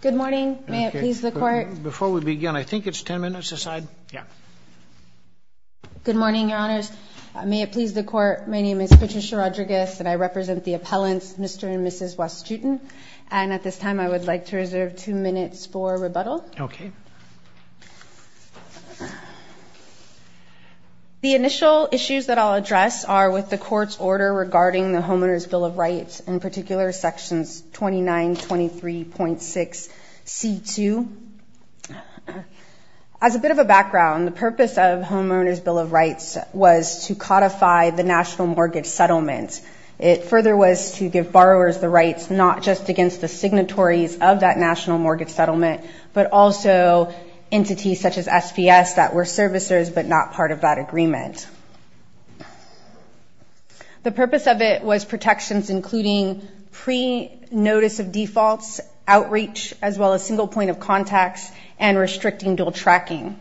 Good morning. May it please the court. Before we begin, I think it's 10 minutes aside. Yeah. Good morning, your honors. May it please the court. My name is Patricia Rodriguez and I represent the appellants Mr. and Mrs. Wasjutin. And at this time, I would like to reserve two minutes for rebuttal. Okay. The initial issues that I'll address are with the court's order regarding the Homeowner's Bill of Rights 2923.6C2. As a bit of a background, the purpose of Homeowner's Bill of Rights was to codify the national mortgage settlement. It further was to give borrowers the rights not just against the signatories of that national mortgage settlement, but also entities such as SPS that were servicers but not part of that agreement. The notice of defaults, outreach, as well as single point of contacts, and restricting dual tracking.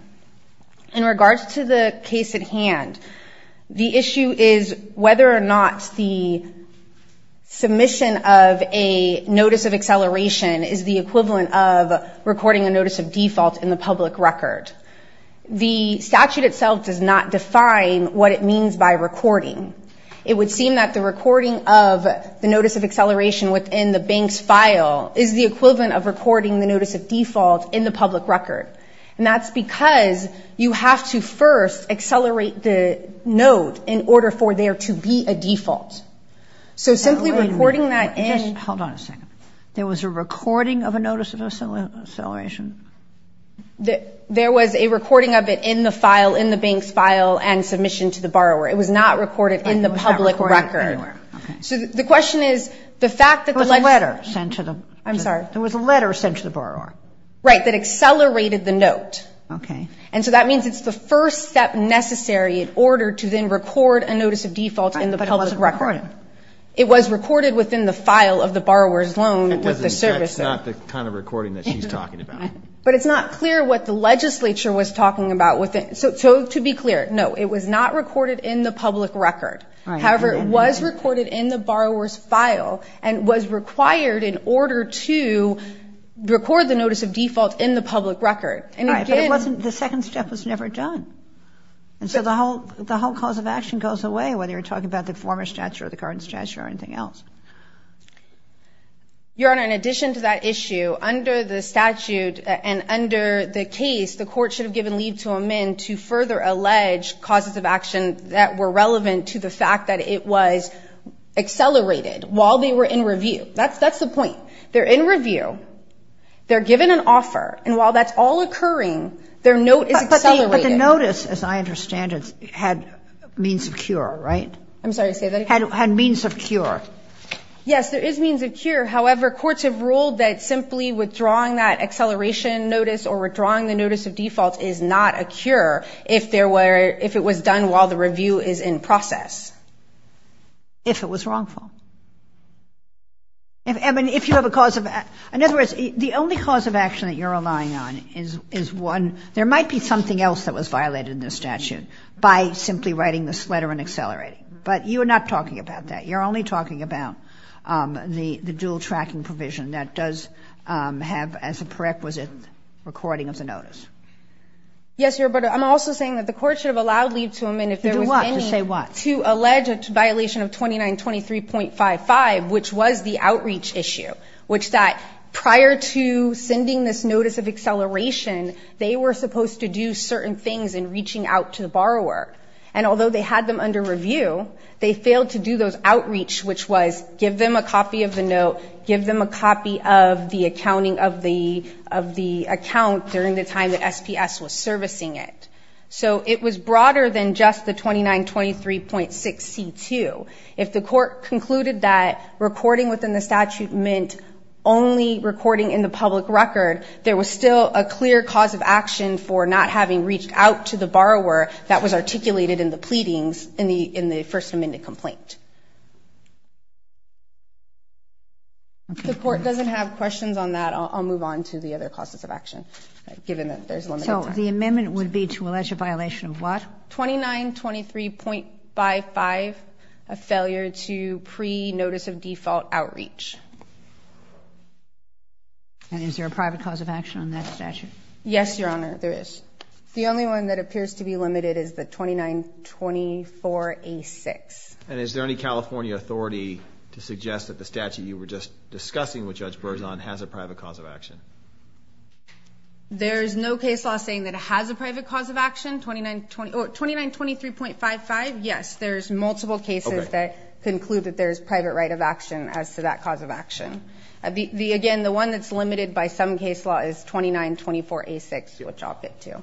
In regards to the case at hand, the issue is whether or not the submission of a notice of acceleration is the equivalent of recording a notice of default in the public record. The statute itself does not define what it means by recording. It would seem that the recording of the bank's file is the equivalent of recording the notice of default in the public record. And that's because you have to first accelerate the note in order for there to be a default. So simply recording that in... Hold on a second. There was a recording of a notice of acceleration? There was a recording of it in the file, in the bank's file, and submission to the borrower. It was not recorded in the public record. So the question is, the fact that the... There was a letter sent to the... I'm sorry. There was a letter sent to the borrower. Right, that accelerated the note. And so that means it's the first step necessary in order to then record a notice of default in the public record. But it wasn't recorded. It was recorded within the file of the borrower's loan that the servicer... That's not the kind of recording that she's talking about. But it's not clear what the legislature was talking about with it. So to be clear, no, it was not recorded in the public record. However, it was recorded in the borrower's file and was required in order to record the notice of default in the public record. But it wasn't... The second step was never done. And so the whole cause of action goes away, whether you're talking about the former statute or the current statute or anything else. Your Honor, in addition to that issue, under the statute and under the case, the court should have given leave to amend to further allege causes of action that were relevant to the fact that it was accelerated while they were in review. That's the point. They're in review. They're given an offer. And while that's all occurring, their note is accelerated. But the notice, as I understand it, had means of cure, right? I'm sorry, say that again. Had means of cure. Yes, there is means of cure. However, courts have ruled that simply withdrawing that acceleration notice or withdrawing the notice of default is not a cure if it was done while the review is in process. If it was wrongful. I mean, if you have a cause of... In other words, the only cause of action that you're relying on is one... There might be something else that was violated in the statute by simply writing this letter and accelerating. But you're not talking about that. You're only talking about the dual tracking provision that does have as a prerequisite recording of the notice. Yes, Your Honor, but I'm also saying that the court should have allowed leave to amend if there was any... To do what? To say what? To allege a violation of 2923.55, which was the outreach issue, which that prior to sending this notice of acceleration, they were supposed to do certain things in reaching out to the borrower. And although they had them under review, they failed to do those outreach, which was give them a copy of the note, give them a copy of the accounting of the account during the time that SPS was servicing it. So it was broader than just the 2923.6C2. If the court concluded that recording within the statute meant only recording in the public record, there was still a clear cause of action for not having reached out to the borrower that was articulated in the pleadings in the First Amendment complaint. If the court doesn't have questions on that, I'll move on to the other causes of action, given that there's limited time. So the amendment would be to allege a violation of what? 2923.55, a failure to pre-notice of default outreach. And is there a private cause of action on that statute? Yes, Your Honor, there is. The only one that appears to be limited is the 2924A6. And is there any California authority to suggest that the statute you were just discussing with Judge Berzon has a private cause of action? There's no case law saying that it has a private cause of action. 2923.55, yes, there's multiple cases that conclude that there's private right of action as to that cause of action. Again, the one that's limited by some case law is 2924A6, which I'll get to.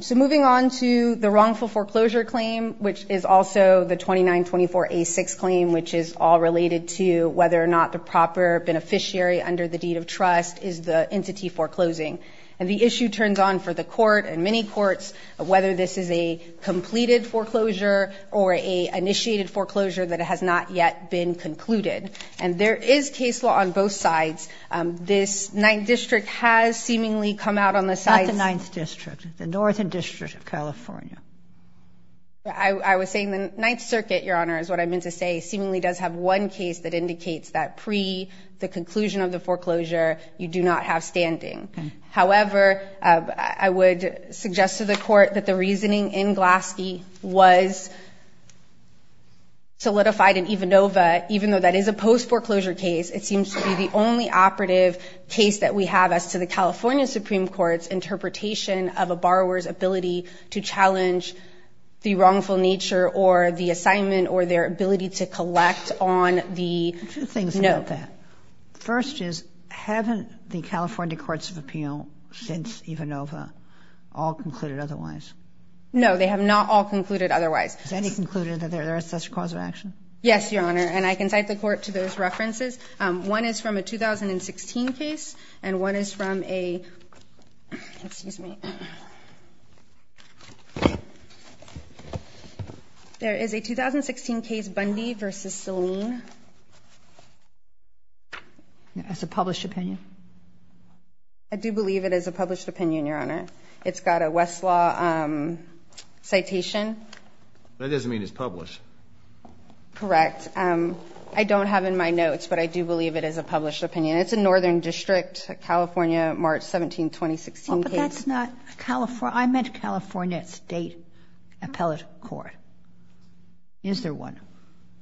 So moving on to the wrongful foreclosure claim, which is also the 2924A6 claim, which is all related to whether or not the proper beneficiary under the deed of trust is the entity foreclosing. And the issue turns on for the court and many courts of whether this is a completed foreclosure or a initiated foreclosure that has not yet been concluded. And there is case law on both sides. This Ninth District has seemingly come out on the sides. Not the Ninth District, the Northern District of California. I was saying the Ninth Circuit, Your Honor, is what I meant to say, seemingly does have one case that indicates that pre the conclusion of the foreclosure, you do not have standing. However, I would suggest to the court that the reasoning in Glaske was solidified in Ivanova. Even though that is a post foreclosure case, it seems to be the only operative case that we have as to the California Supreme Court's interpretation of a borrower's ability to challenge the wrongful nature or the assignment or their ability to collect on the note. Two things about that. First is, haven't the California Courts of Appeal since Ivanova all concluded otherwise? No, they have not all concluded otherwise. Has any concluded that there is such a cause of action? Yes, Your Honor, and I can cite the court to those references. One is from a 2016 case, and one is from a, excuse me. There is a 2016 case, Bundy v. Saline. That's a published opinion. I do believe it is a published opinion, Your Honor. It's got a Westlaw citation. That doesn't mean it's published. Correct. I don't have in my notes, but I do believe it is a published opinion. It's a Northern District, California, March 17, 2016 case. But that's not California. I meant California State Appellate Court. Is there one?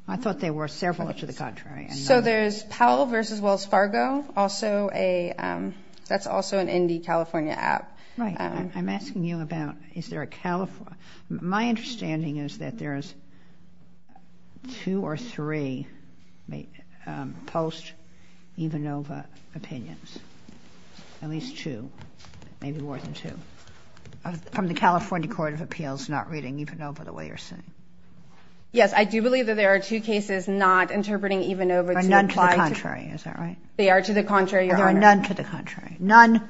I thought there were several to the contrary. So there's Powell v. Wells Fargo, also a, that's also an Indy, California app. Right. I'm asking you about is there a, my understanding is that there is two or three post-Ivanova opinions, at least two, maybe more than two, from the California Court of Appeals not reading Ivanova the way you're saying. Yes, I do believe that there are two cases not interpreting Ivanova to apply to. Or none to the contrary. Is that right? They are to the contrary, Your Honor. Or there are none to the contrary. None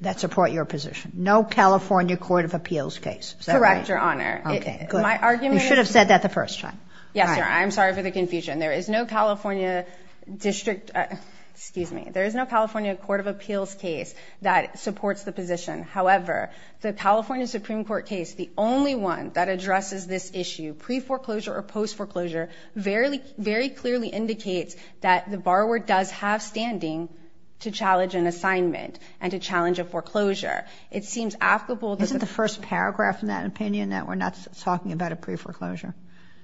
that support your position. No California Court of Appeals case. Is that right? Correct, Your Honor. My argument is. You should have said that the first time. Yes, Your Honor. I'm sorry for the confusion. There is no California District, excuse me, there is no California Court of Appeals case that supports the position. However, the California Supreme Court case, the only one that addresses this issue pre-foreclosure or post-foreclosure, very clearly indicates that the borrower does have standing to challenge an assignment and to challenge a foreclosure. It seems applicable. Isn't the first paragraph in that opinion that we're not talking about a pre-foreclosure?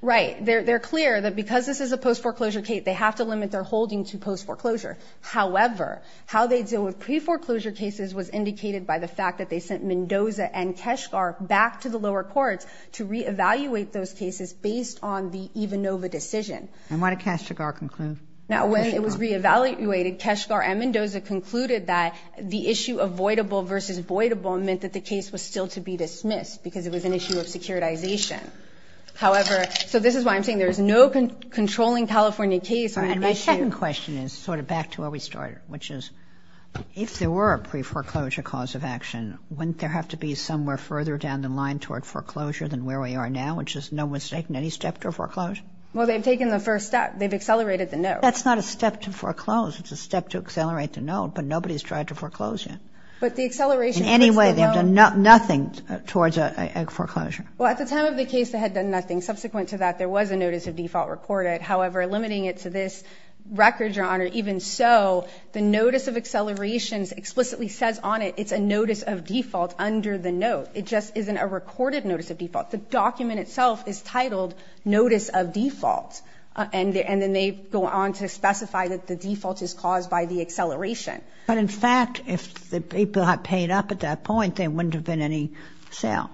Right. They're clear that because this is a post-foreclosure case, they have to limit their holding to post-foreclosure. However, how they deal with pre-foreclosure cases was indicated by the fact that they sent Mendoza and Keshgar back to the lower courts to reevaluate those cases based on the Ivanova decision. And what did Keshgar conclude? Now, when it was reevaluated, Keshgar and Mendoza concluded that the issue of voidable versus voidable meant that the case was still to be dismissed because it was an issue of securitization. However, so this is why I'm saying there is no controlling California case. And my second question is sort of back to where we started, which is if there were a pre-foreclosure cause of action, wouldn't there have to be somewhere further down the line toward foreclosure than where we are now, which is no one's taken any step to foreclose? Well, they've taken the first step. They've accelerated the note. That's not a step to foreclose. It's a step to accelerate the note, but nobody's tried to foreclose yet. In any way, they've done nothing towards a foreclosure. Well, at the time of the case, they had done nothing. Subsequent to that, there was a notice of default recorded. However, limiting it to this record, Your Honor, even so, the notice of accelerations explicitly says on it it's a notice of default under the note. It just isn't a recorded notice of default. The document itself is titled Notice of Default. And then they go on to specify that the default is caused by the acceleration. But, in fact, if the people had paid up at that point, there wouldn't have been any sale.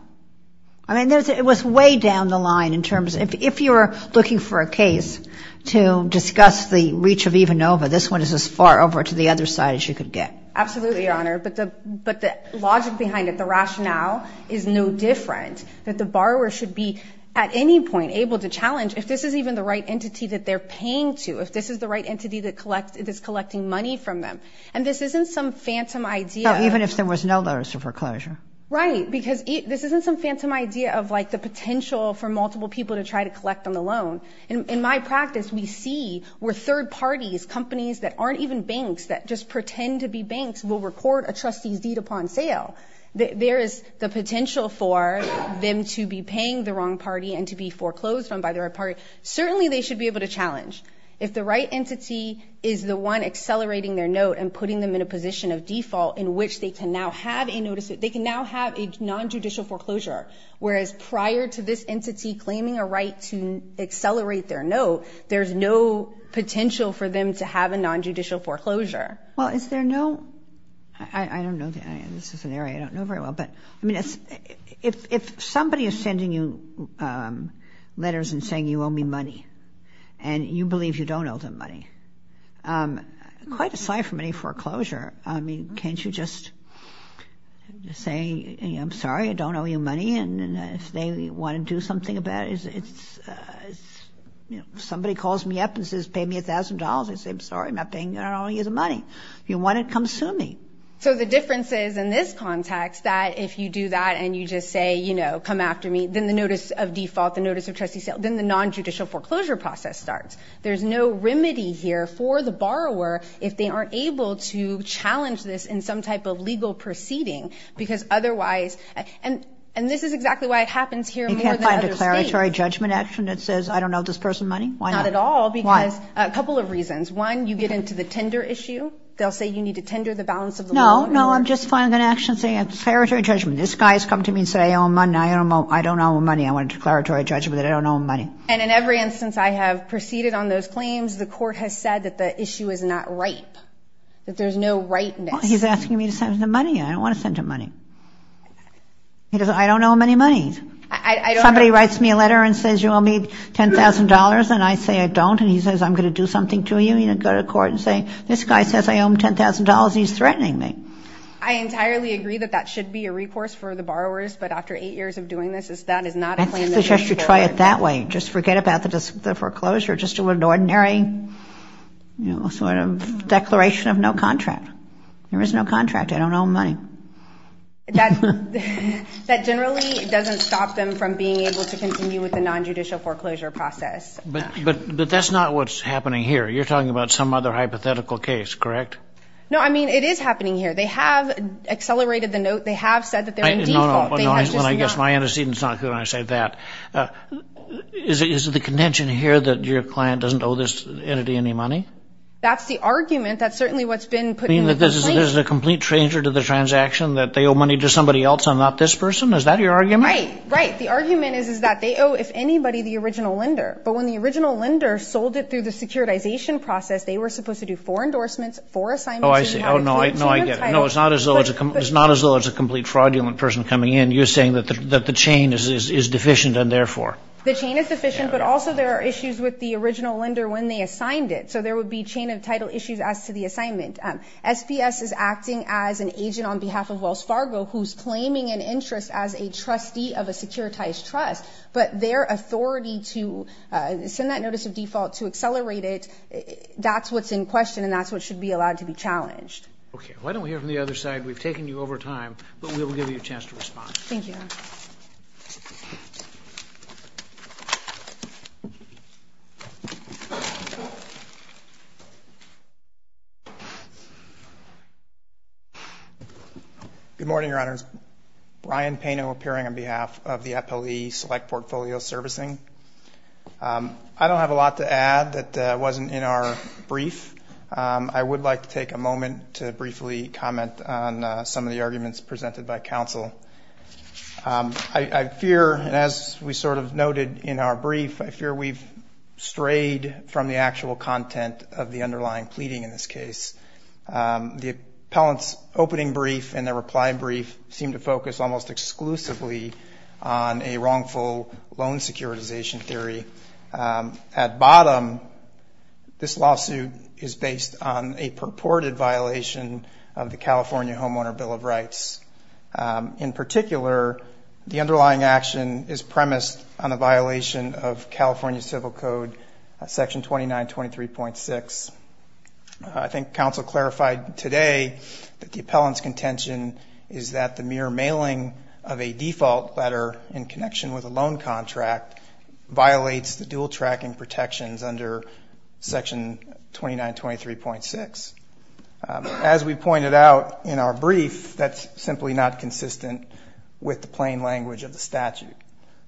I mean, it was way down the line in terms of if you're looking for a case to discuss the reach of EVANOVA, this one is as far over to the other side as you could get. Absolutely, Your Honor. But the logic behind it, the rationale is no different, that the borrower should be at any point able to challenge, if this is even the right entity that they're paying to, if this is the right entity that is collecting money from them. And this isn't some phantom idea. Even if there was no notice of foreclosure. Right. Because this isn't some phantom idea of, like, the potential for multiple people to try to collect on the loan. In my practice, we see where third parties, companies that aren't even banks that just pretend to be banks, will record a trustee's deed upon sale. There is the potential for them to be paying the wrong party and to be paying the wrong party. Certainly they should be able to challenge. If the right entity is the one accelerating their note and putting them in a position of default in which they can now have a nonjudicial foreclosure, whereas prior to this entity claiming a right to accelerate their note, there's no potential for them to have a nonjudicial foreclosure. Well, is there no, I don't know, this is an area I don't know very well, but, I mean, if somebody is sending you letters and saying you owe me money and you believe you don't owe them money, quite aside from any foreclosure, I mean, can't you just say, I'm sorry, I don't owe you money, and if they want to do something about it, it's, you know, if somebody calls me up and says pay me $1,000, I say, I'm sorry, I'm not paying you, I don't owe you the money. If you want it, come sue me. So the difference is, in this context, that if you do that and you just say, you know, come after me, then the notice of default, the notice of trustee sale, then the nonjudicial foreclosure process starts. There's no remedy here for the borrower if they aren't able to challenge this in some type of legal proceeding because otherwise, and this is exactly why it happens here more than other states. You can't find a declaratory judgment action that says, I don't owe this person money, why not? Not at all because a couple of reasons. One, you get into the tender issue. They'll say you need to tender the balance of the loan. No, no, I'm just filing an action saying it's a declaratory judgment. This guy has come to me and said, I don't owe him money. I want a declaratory judgment that I don't owe him money. And in every instance I have proceeded on those claims, the court has said that the issue is not ripe, that there's no ripeness. He's asking me to send him the money. I don't want to send him money. He goes, I don't owe him any money. Somebody writes me a letter and says you owe me $10,000, and I say I don't, and he says, I'm going to do something to you. I'm going to go to court and say, this guy says I owe him $10,000. He's threatening me. I entirely agree that that should be a recourse for the borrowers, but after eight years of doing this, that is not a plan that should work. I suggest you try it that way. Just forget about the foreclosure. Just do an ordinary sort of declaration of no contract. There is no contract. I don't owe him money. That generally doesn't stop them from being able to continue with the nonjudicial foreclosure process. But that's not what's happening here. You're talking about some other hypothetical case, correct? No, I mean, it is happening here. They have accelerated the note. They have said that they're in default. No, no. I guess my understanding is not clear when I say that. Is it the contention here that your client doesn't owe this entity any money? That's the argument. That's certainly what's been put in the complaint. You mean that this is a complete stranger to the transaction, that they owe money to somebody else and not this person? Is that your argument? Right, right. The argument is that they owe, if anybody, the original lender. But when the original lender sold it through the securitization process, they were supposed to do four endorsements, four assignments. Oh, I see. No, I get it. No, it's not as though it's a complete fraudulent person coming in. You're saying that the chain is deficient and therefore. The chain is deficient, but also there are issues with the original lender when they assigned it. So there would be chain of title issues as to the assignment. SBS is acting as an agent on behalf of Wells Fargo who's claiming an interest as a trustee of a securitized trust. But their authority to send that notice of default to accelerate it, that's what's in question and that's what should be allowed to be challenged. Okay. Why don't we hear from the other side? We've taken you over time, but we will give you a chance to respond. Thank you. Good morning, Your Honors. Brian Pano appearing on behalf of the appellee select portfolio servicing. I don't have a lot to add that wasn't in our brief. I would like to take a moment to briefly comment on some of the arguments presented by counsel. I fear, as we sort of noted in our brief, I fear we've strayed from the actual content of the underlying pleading in this case. The appellant's opening brief and their reply brief seem to focus almost exclusively on a wrongful loan securitization theory. At bottom, this lawsuit is based on a purported violation of the California Homeowner Bill of Rights. In particular, the underlying action is premised on a violation of California Civil Code, Section 2923.6. I think counsel clarified today that the appellant's contention is that the mere mailing of a default letter in connection with a loan contract violates the dual tracking protections under Section 2923.6. As we pointed out in our brief, that's simply not consistent with the plain language of the statute.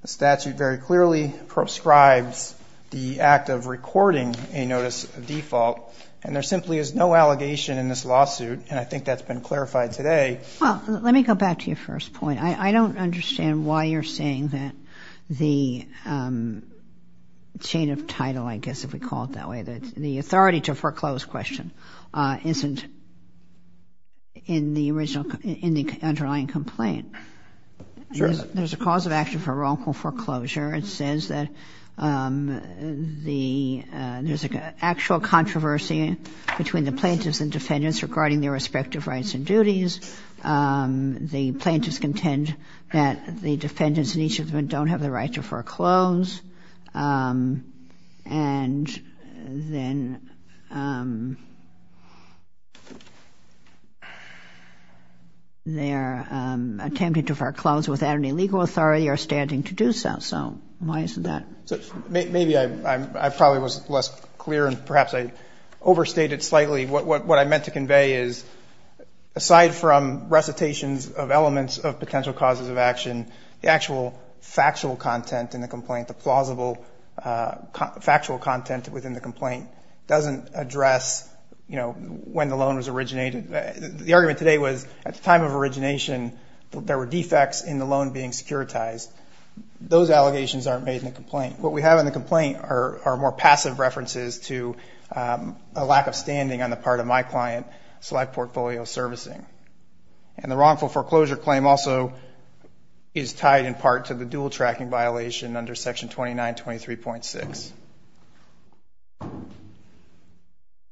The statute very clearly prescribes the act of recording a notice of default, and there simply is no allegation in this lawsuit, and I think that's been clarified today. Well, let me go back to your first point. I don't understand why you're saying that the chain of title, I guess if we call it that way, the authority to foreclose question isn't in the underlying complaint. Sure. There's a cause of action for wrongful foreclosure. It says that there's an actual controversy between the plaintiffs and defendants regarding their respective rights and duties. The plaintiffs contend that the defendants and each of them don't have the right to foreclose, and then they're attempting to foreclose without any legal authority or standing to do so. So why isn't that? Maybe I probably was less clear, and perhaps I overstated slightly what I meant to convey is aside from recitations of elements of potential causes of action, the actual factual content in the complaint, the plausible factual content within the complaint, doesn't address when the loan was originated. The argument today was at the time of origination, there were defects in the loan being securitized. Those allegations aren't made in the complaint. What we have in the complaint are more passive references to a lack of standing on the part of my client, select portfolio servicing. And the wrongful foreclosure claim also is tied in part to the dual tracking violation under Section 2923.6.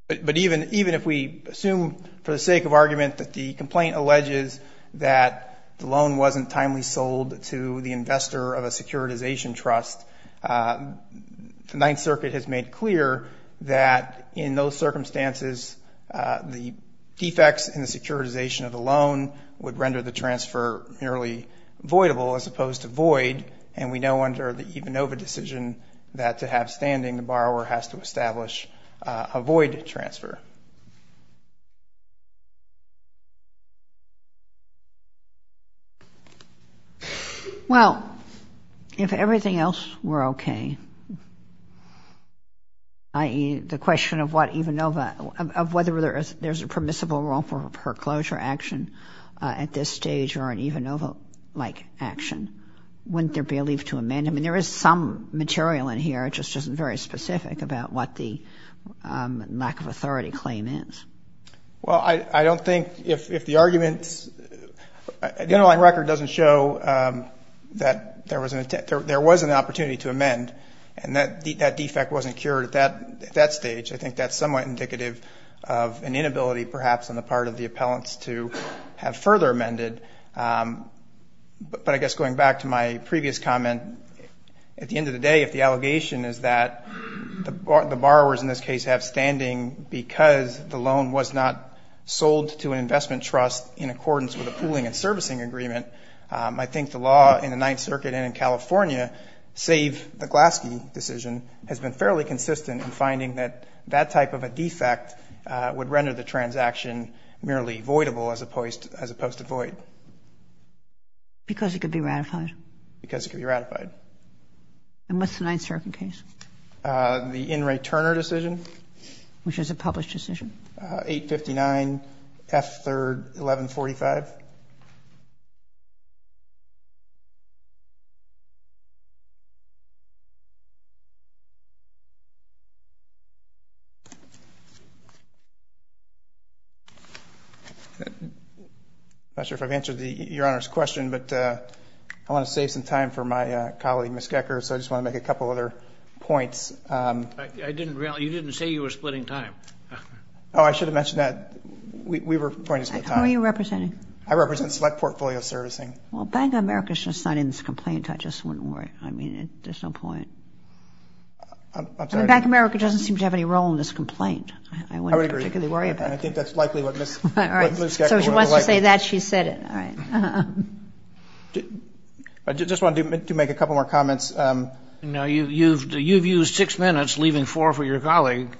But even if we assume for the sake of argument that the complaint alleges that the loan wasn't timely sold to the investor of a securitization trust, the Ninth Circuit has made clear that in those circumstances, the defects in the securitization of the loan would render the transfer nearly voidable as opposed to void. And we know under the Ivanova decision that to have standing, the borrower has to establish a void transfer. Well, if everything else were okay, i.e., the question of what Ivanova, of whether there's a permissible wrongful foreclosure action at this stage or an Ivanova-like action, wouldn't there be a leave to amend? I mean, there is some material in here, it just isn't very specific about what the lack of authority claim is. Well, I don't think if the arguments, that defect wasn't cured at that stage. I think that's somewhat indicative of an inability, perhaps, on the part of the appellants to have further amended. But I guess going back to my previous comment, at the end of the day if the allegation is that the borrowers in this case have standing because the loan was not sold to an investment trust in accordance with a pooling and servicing agreement, I think the law in the Ninth Circuit and in California, save the Glaske decision, has been fairly consistent in finding that that type of a defect would render the transaction merely voidable as opposed to void. Because it could be ratified. Because it could be ratified. And what's the Ninth Circuit case? The In re Turner decision. Which is a published decision. 859 F3, 1145. I'm not sure if I've answered your Honor's question, but I want to save some time for my colleague, Miss Gekker. So I just want to make a couple other points. I didn't really, you didn't say you were splitting time. Oh, I should have mentioned that. We were pointing to the time. Gekker. I'm representing Mr. Gekker. I'm representing Mr. Gekker. I represent Select Portfolio Servicing. Well, Bank of America is just not in this complaint. I just wouldn't worry. I mean, there's no point. I'm sorry. Bank of America doesn't seem to have any role in this complaint. I wouldn't particularly worry about it. I think that's likely what Miss Gekker would have liked. So if she wants to say that, she said it. All right. I just wanted to make a couple more comments. You've used six minutes, leaving four for your colleague.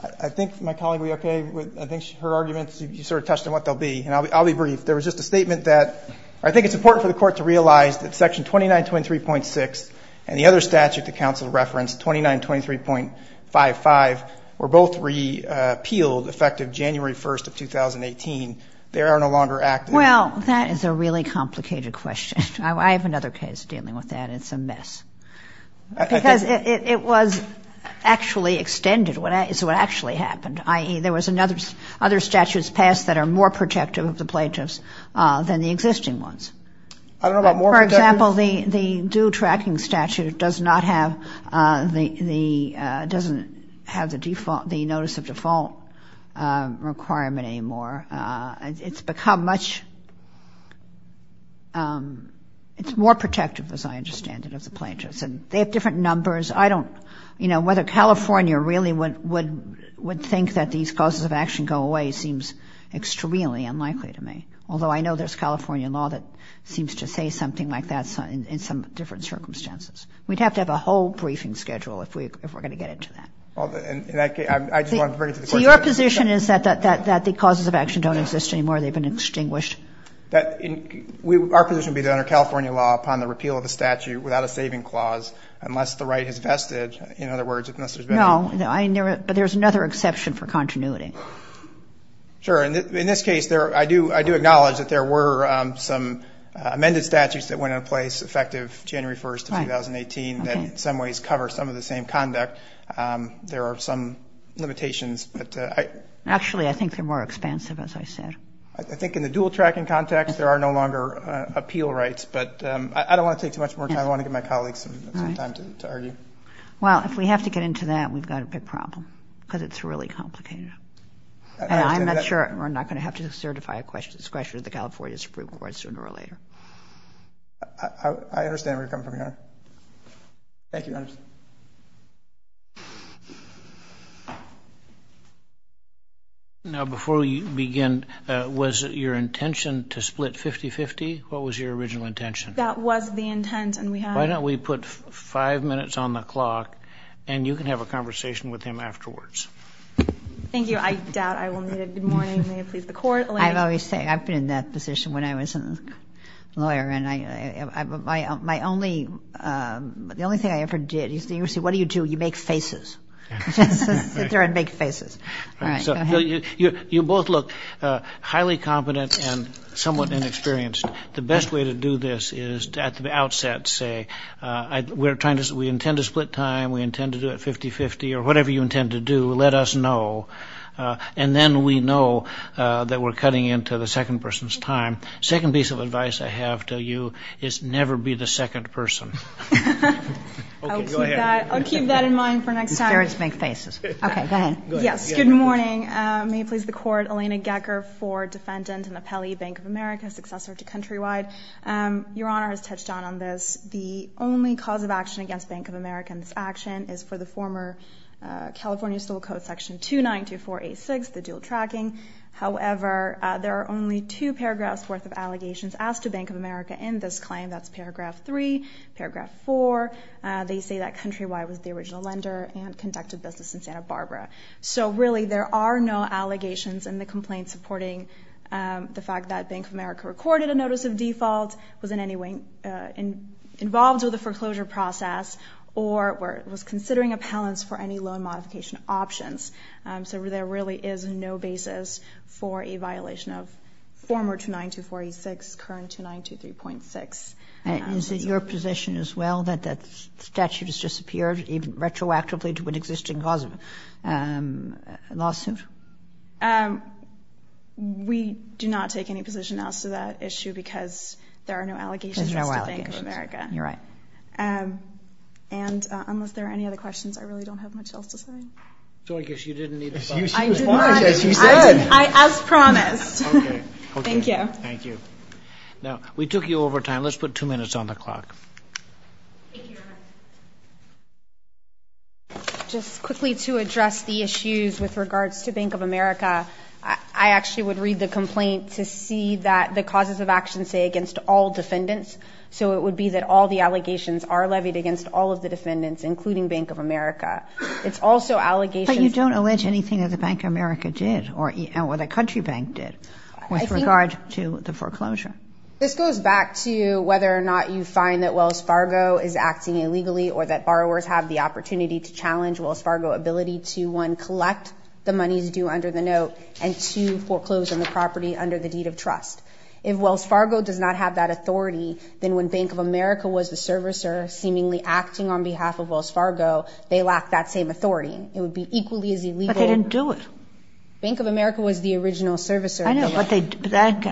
I think my colleague will be okay. I think her arguments, you sort of touched on what they'll be. And I'll be brief. There was just a statement that I think it's important for the court to realize that Section 2923.6 and the other statute the counsel referenced, 2923.55, were both repealed effective January 1st of 2018. They are no longer active. Well, that is a really complicated question. I have another case dealing with that. It's a mess. Because it was actually extended is what actually happened. I.e., there was other statutes passed that are more protective of the plaintiffs than the existing ones. I don't know about more protective. For example, the due tracking statute doesn't have the notice of default requirement anymore. It's become much more protective, as I understand it, of the plaintiffs. And they have different numbers. Whether California really would think that these causes of action go away seems extremely unlikely to me. Although I know there's California law that seems to say something like that in some different circumstances. We'd have to have a whole briefing schedule if we're going to get into that. I just wanted to bring it to the court. So your position is that the causes of action don't exist anymore? They've been extinguished? Our position would be that under California law, without a saving clause, unless the right has vested. No, but there's another exception for continuity. Sure. In this case, I do acknowledge that there were some amended statutes that went into place effective January 1st of 2018 that in some ways cover some of the same conduct. There are some limitations. Actually, I think they're more expansive, as I said. I think in the dual tracking context, there are no longer appeal rights. But I don't want to take too much more time. I want to give my colleagues some time to argue. Well, if we have to get into that, we've got a big problem because it's really complicated. And I'm not sure we're not going to have to certify a discretion to the California Supreme Court sooner or later. I understand where you're coming from, Your Honor. Thank you, Your Honor. Now, before we begin, was your intention to split 50-50? What was your original intention? That was the intent. Why don't we put five minutes on the clock, and you can have a conversation with him afterwards. Thank you. I doubt I will need it. Good morning. May it please the Court. I've always said I've been in that position when I was a lawyer. And the only thing I ever did, he used to say, what do you do? You make faces. Sit there and make faces. All right. Go ahead. You both look highly competent and somewhat inexperienced. The best way to do this is at the outset say, we intend to split time, we intend to do it 50-50, or whatever you intend to do, let us know. And then we know that we're cutting into the second person's time. The second piece of advice I have to you is never be the second person. Okay, go ahead. I'll keep that in mind for next time. He starts to make faces. Okay, go ahead. Yes. Good morning. May it please the Court. Elena Gecker, 4, defendant in the Pelley Bank of America, successor to Countrywide. Your Honor has touched on this. The only cause of action against Bank of America in this action is for the former California Civil Code Section 292486, the dual tracking. However, there are only two paragraphs worth of allegations asked to Bank of America in this claim. That's paragraph 3, paragraph 4. They say that Countrywide was the original lender and conducted business in Santa Barbara. So really, there are no allegations in the complaint supporting the fact that Bank of America recorded a notice of default, was in any way involved with the foreclosure process, or was considering appellants for any loan modification options. So there really is no basis for a violation of former 292486, current 2923.6. Is it your position as well that that statute has disappeared retroactively to an existing lawsuit? We do not take any position as to that issue because there are no allegations to Bank of America. You're right. And unless there are any other questions, I really don't have much else to say. So I guess you didn't need to respond. I did not. As you said. As promised. Okay. Thank you. Thank you. Now, we took you over time. Let's put two minutes on the clock. Thank you, Your Honor. Just quickly to address the issues with regards to Bank of America, I actually would read the complaint to see that the causes of action say against all defendants. So it would be that all the allegations are levied against all of the defendants, including Bank of America. It's also allegations. But you don't allege anything that the Bank of America did or the country bank did with regard to the foreclosure. This goes back to whether or not you find that Wells Fargo is acting illegally or that borrowers have the opportunity to challenge Wells Fargo ability to, one, collect the monies due under the note, and two, foreclose on the property under the deed of trust. If Wells Fargo does not have that authority, then when Bank of America was the servicer seemingly acting on behalf of Wells Fargo, they lack that same authority. It would be equally as illegal. But they didn't do it. Bank of America was the original servicer. I know, but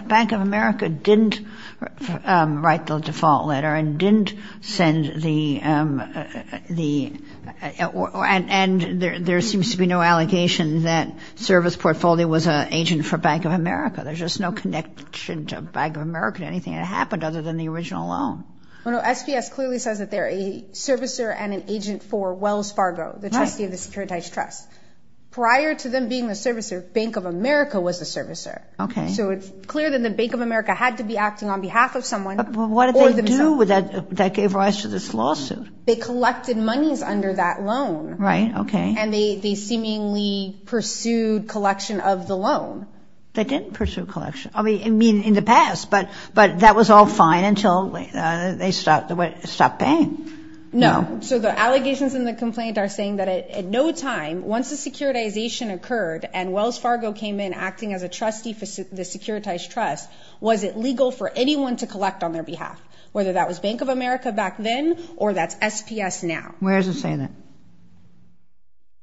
Bank of America didn't write the default letter and didn't send the – and there seems to be no allegation that service portfolio was an agent for Bank of America. There's just no connection to Bank of America or anything that happened other than the original loan. No, no. SBS clearly says that they're a servicer and an agent for Wells Fargo, the trustee of the Securitized Trust. Prior to them being the servicer, Bank of America was the servicer. Okay. So it's clear that Bank of America had to be acting on behalf of someone or themselves. But what did they do that gave rise to this lawsuit? They collected monies under that loan. Right, okay. And they seemingly pursued collection of the loan. They didn't pursue collection. I mean, in the past, but that was all fine until they stopped paying. No. So the allegations in the complaint are saying that at no time, once the securitization occurred and Wells Fargo came in acting as a trustee for the Securitized Trust, was it legal for anyone to collect on their behalf, whether that was Bank of America back then or that's SPS now. Where does it say that?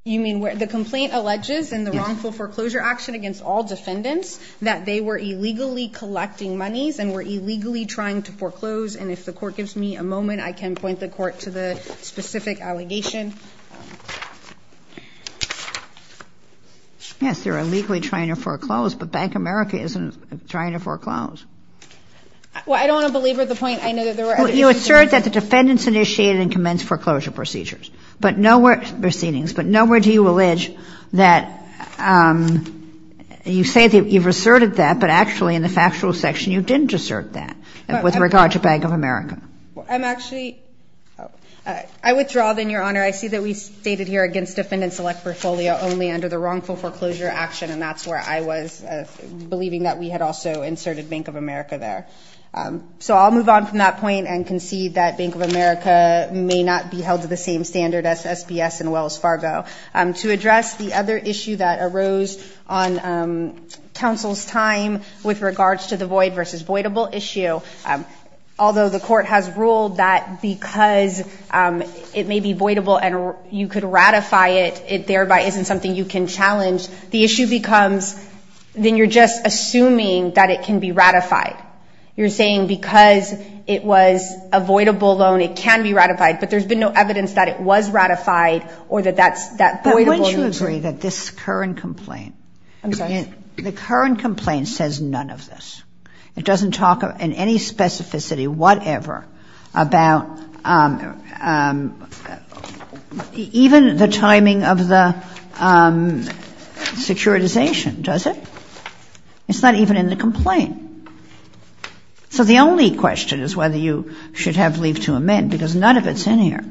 You mean where the complaint alleges in the wrongful foreclosure action against all defendants that they were illegally collecting monies and were illegally trying to foreclose? And if the Court gives me a moment, I can point the Court to the specific allegation. Yes, they were illegally trying to foreclose, but Bank of America isn't trying to foreclose. Well, I don't want to belabor the point. I know that there were other issues. You assert that the defendants initiated and commenced foreclosure procedures. But nowhere do you allege that you say that you've asserted that, but actually in the factual section you didn't assert that with regard to Bank of America. I'm actually – I withdraw, then, Your Honor. I see that we stated here against defendant-select portfolio only under the wrongful foreclosure action, and that's where I was believing that we had also inserted Bank of America there. So I'll move on from that point and concede that Bank of America may not be held to the same standard as SPS and Wells Fargo. To address the other issue that arose on counsel's time with regards to the void versus voidable issue, although the Court has ruled that because it may be voidable and you could ratify it, it thereby isn't something you can challenge, the issue becomes then you're just assuming that it can be ratified. You're saying because it was a voidable loan, it can be ratified, but there's been no evidence that it was ratified or that that's – that voidable loan – But wouldn't you agree that this current complaint – I'm sorry? The current complaint says none of this. It doesn't talk in any specificity whatever about even the timing of the securitization, does it? It's not even in the complaint. So the only question is whether you should have leave to amend, because none of it's in here.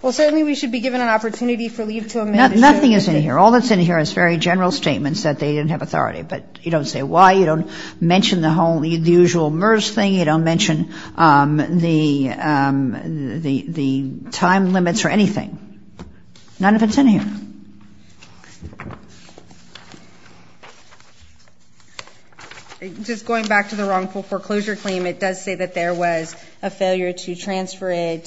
Well, certainly we should be given an opportunity for leave to amend. Nothing is in here. All that's in here is very general statements that they didn't have authority. But you don't say why. You don't mention the whole – the usual MERS thing. You don't mention the time limits or anything. None of it's in here. Just going back to the wrongful foreclosure claim, it does say that there was a failure to transfer it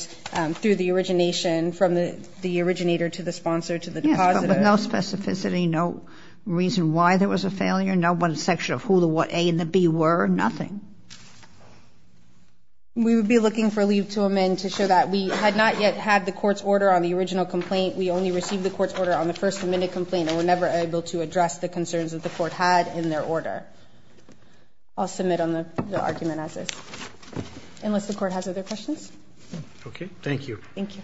through the origination from the originator to the sponsor to the depositor. Yes, but no specificity, no reason why there was a failure, no section of who the A and the B were, nothing. We would be looking for leave to amend to show that we had not yet had the court's order on the original complaint. We only received the court's order on the first amended complaint and were never able to address the concerns that the court had in their order. I'll submit on the argument as is, unless the court has other questions. Okay. Thank you. Thank you. Thank you.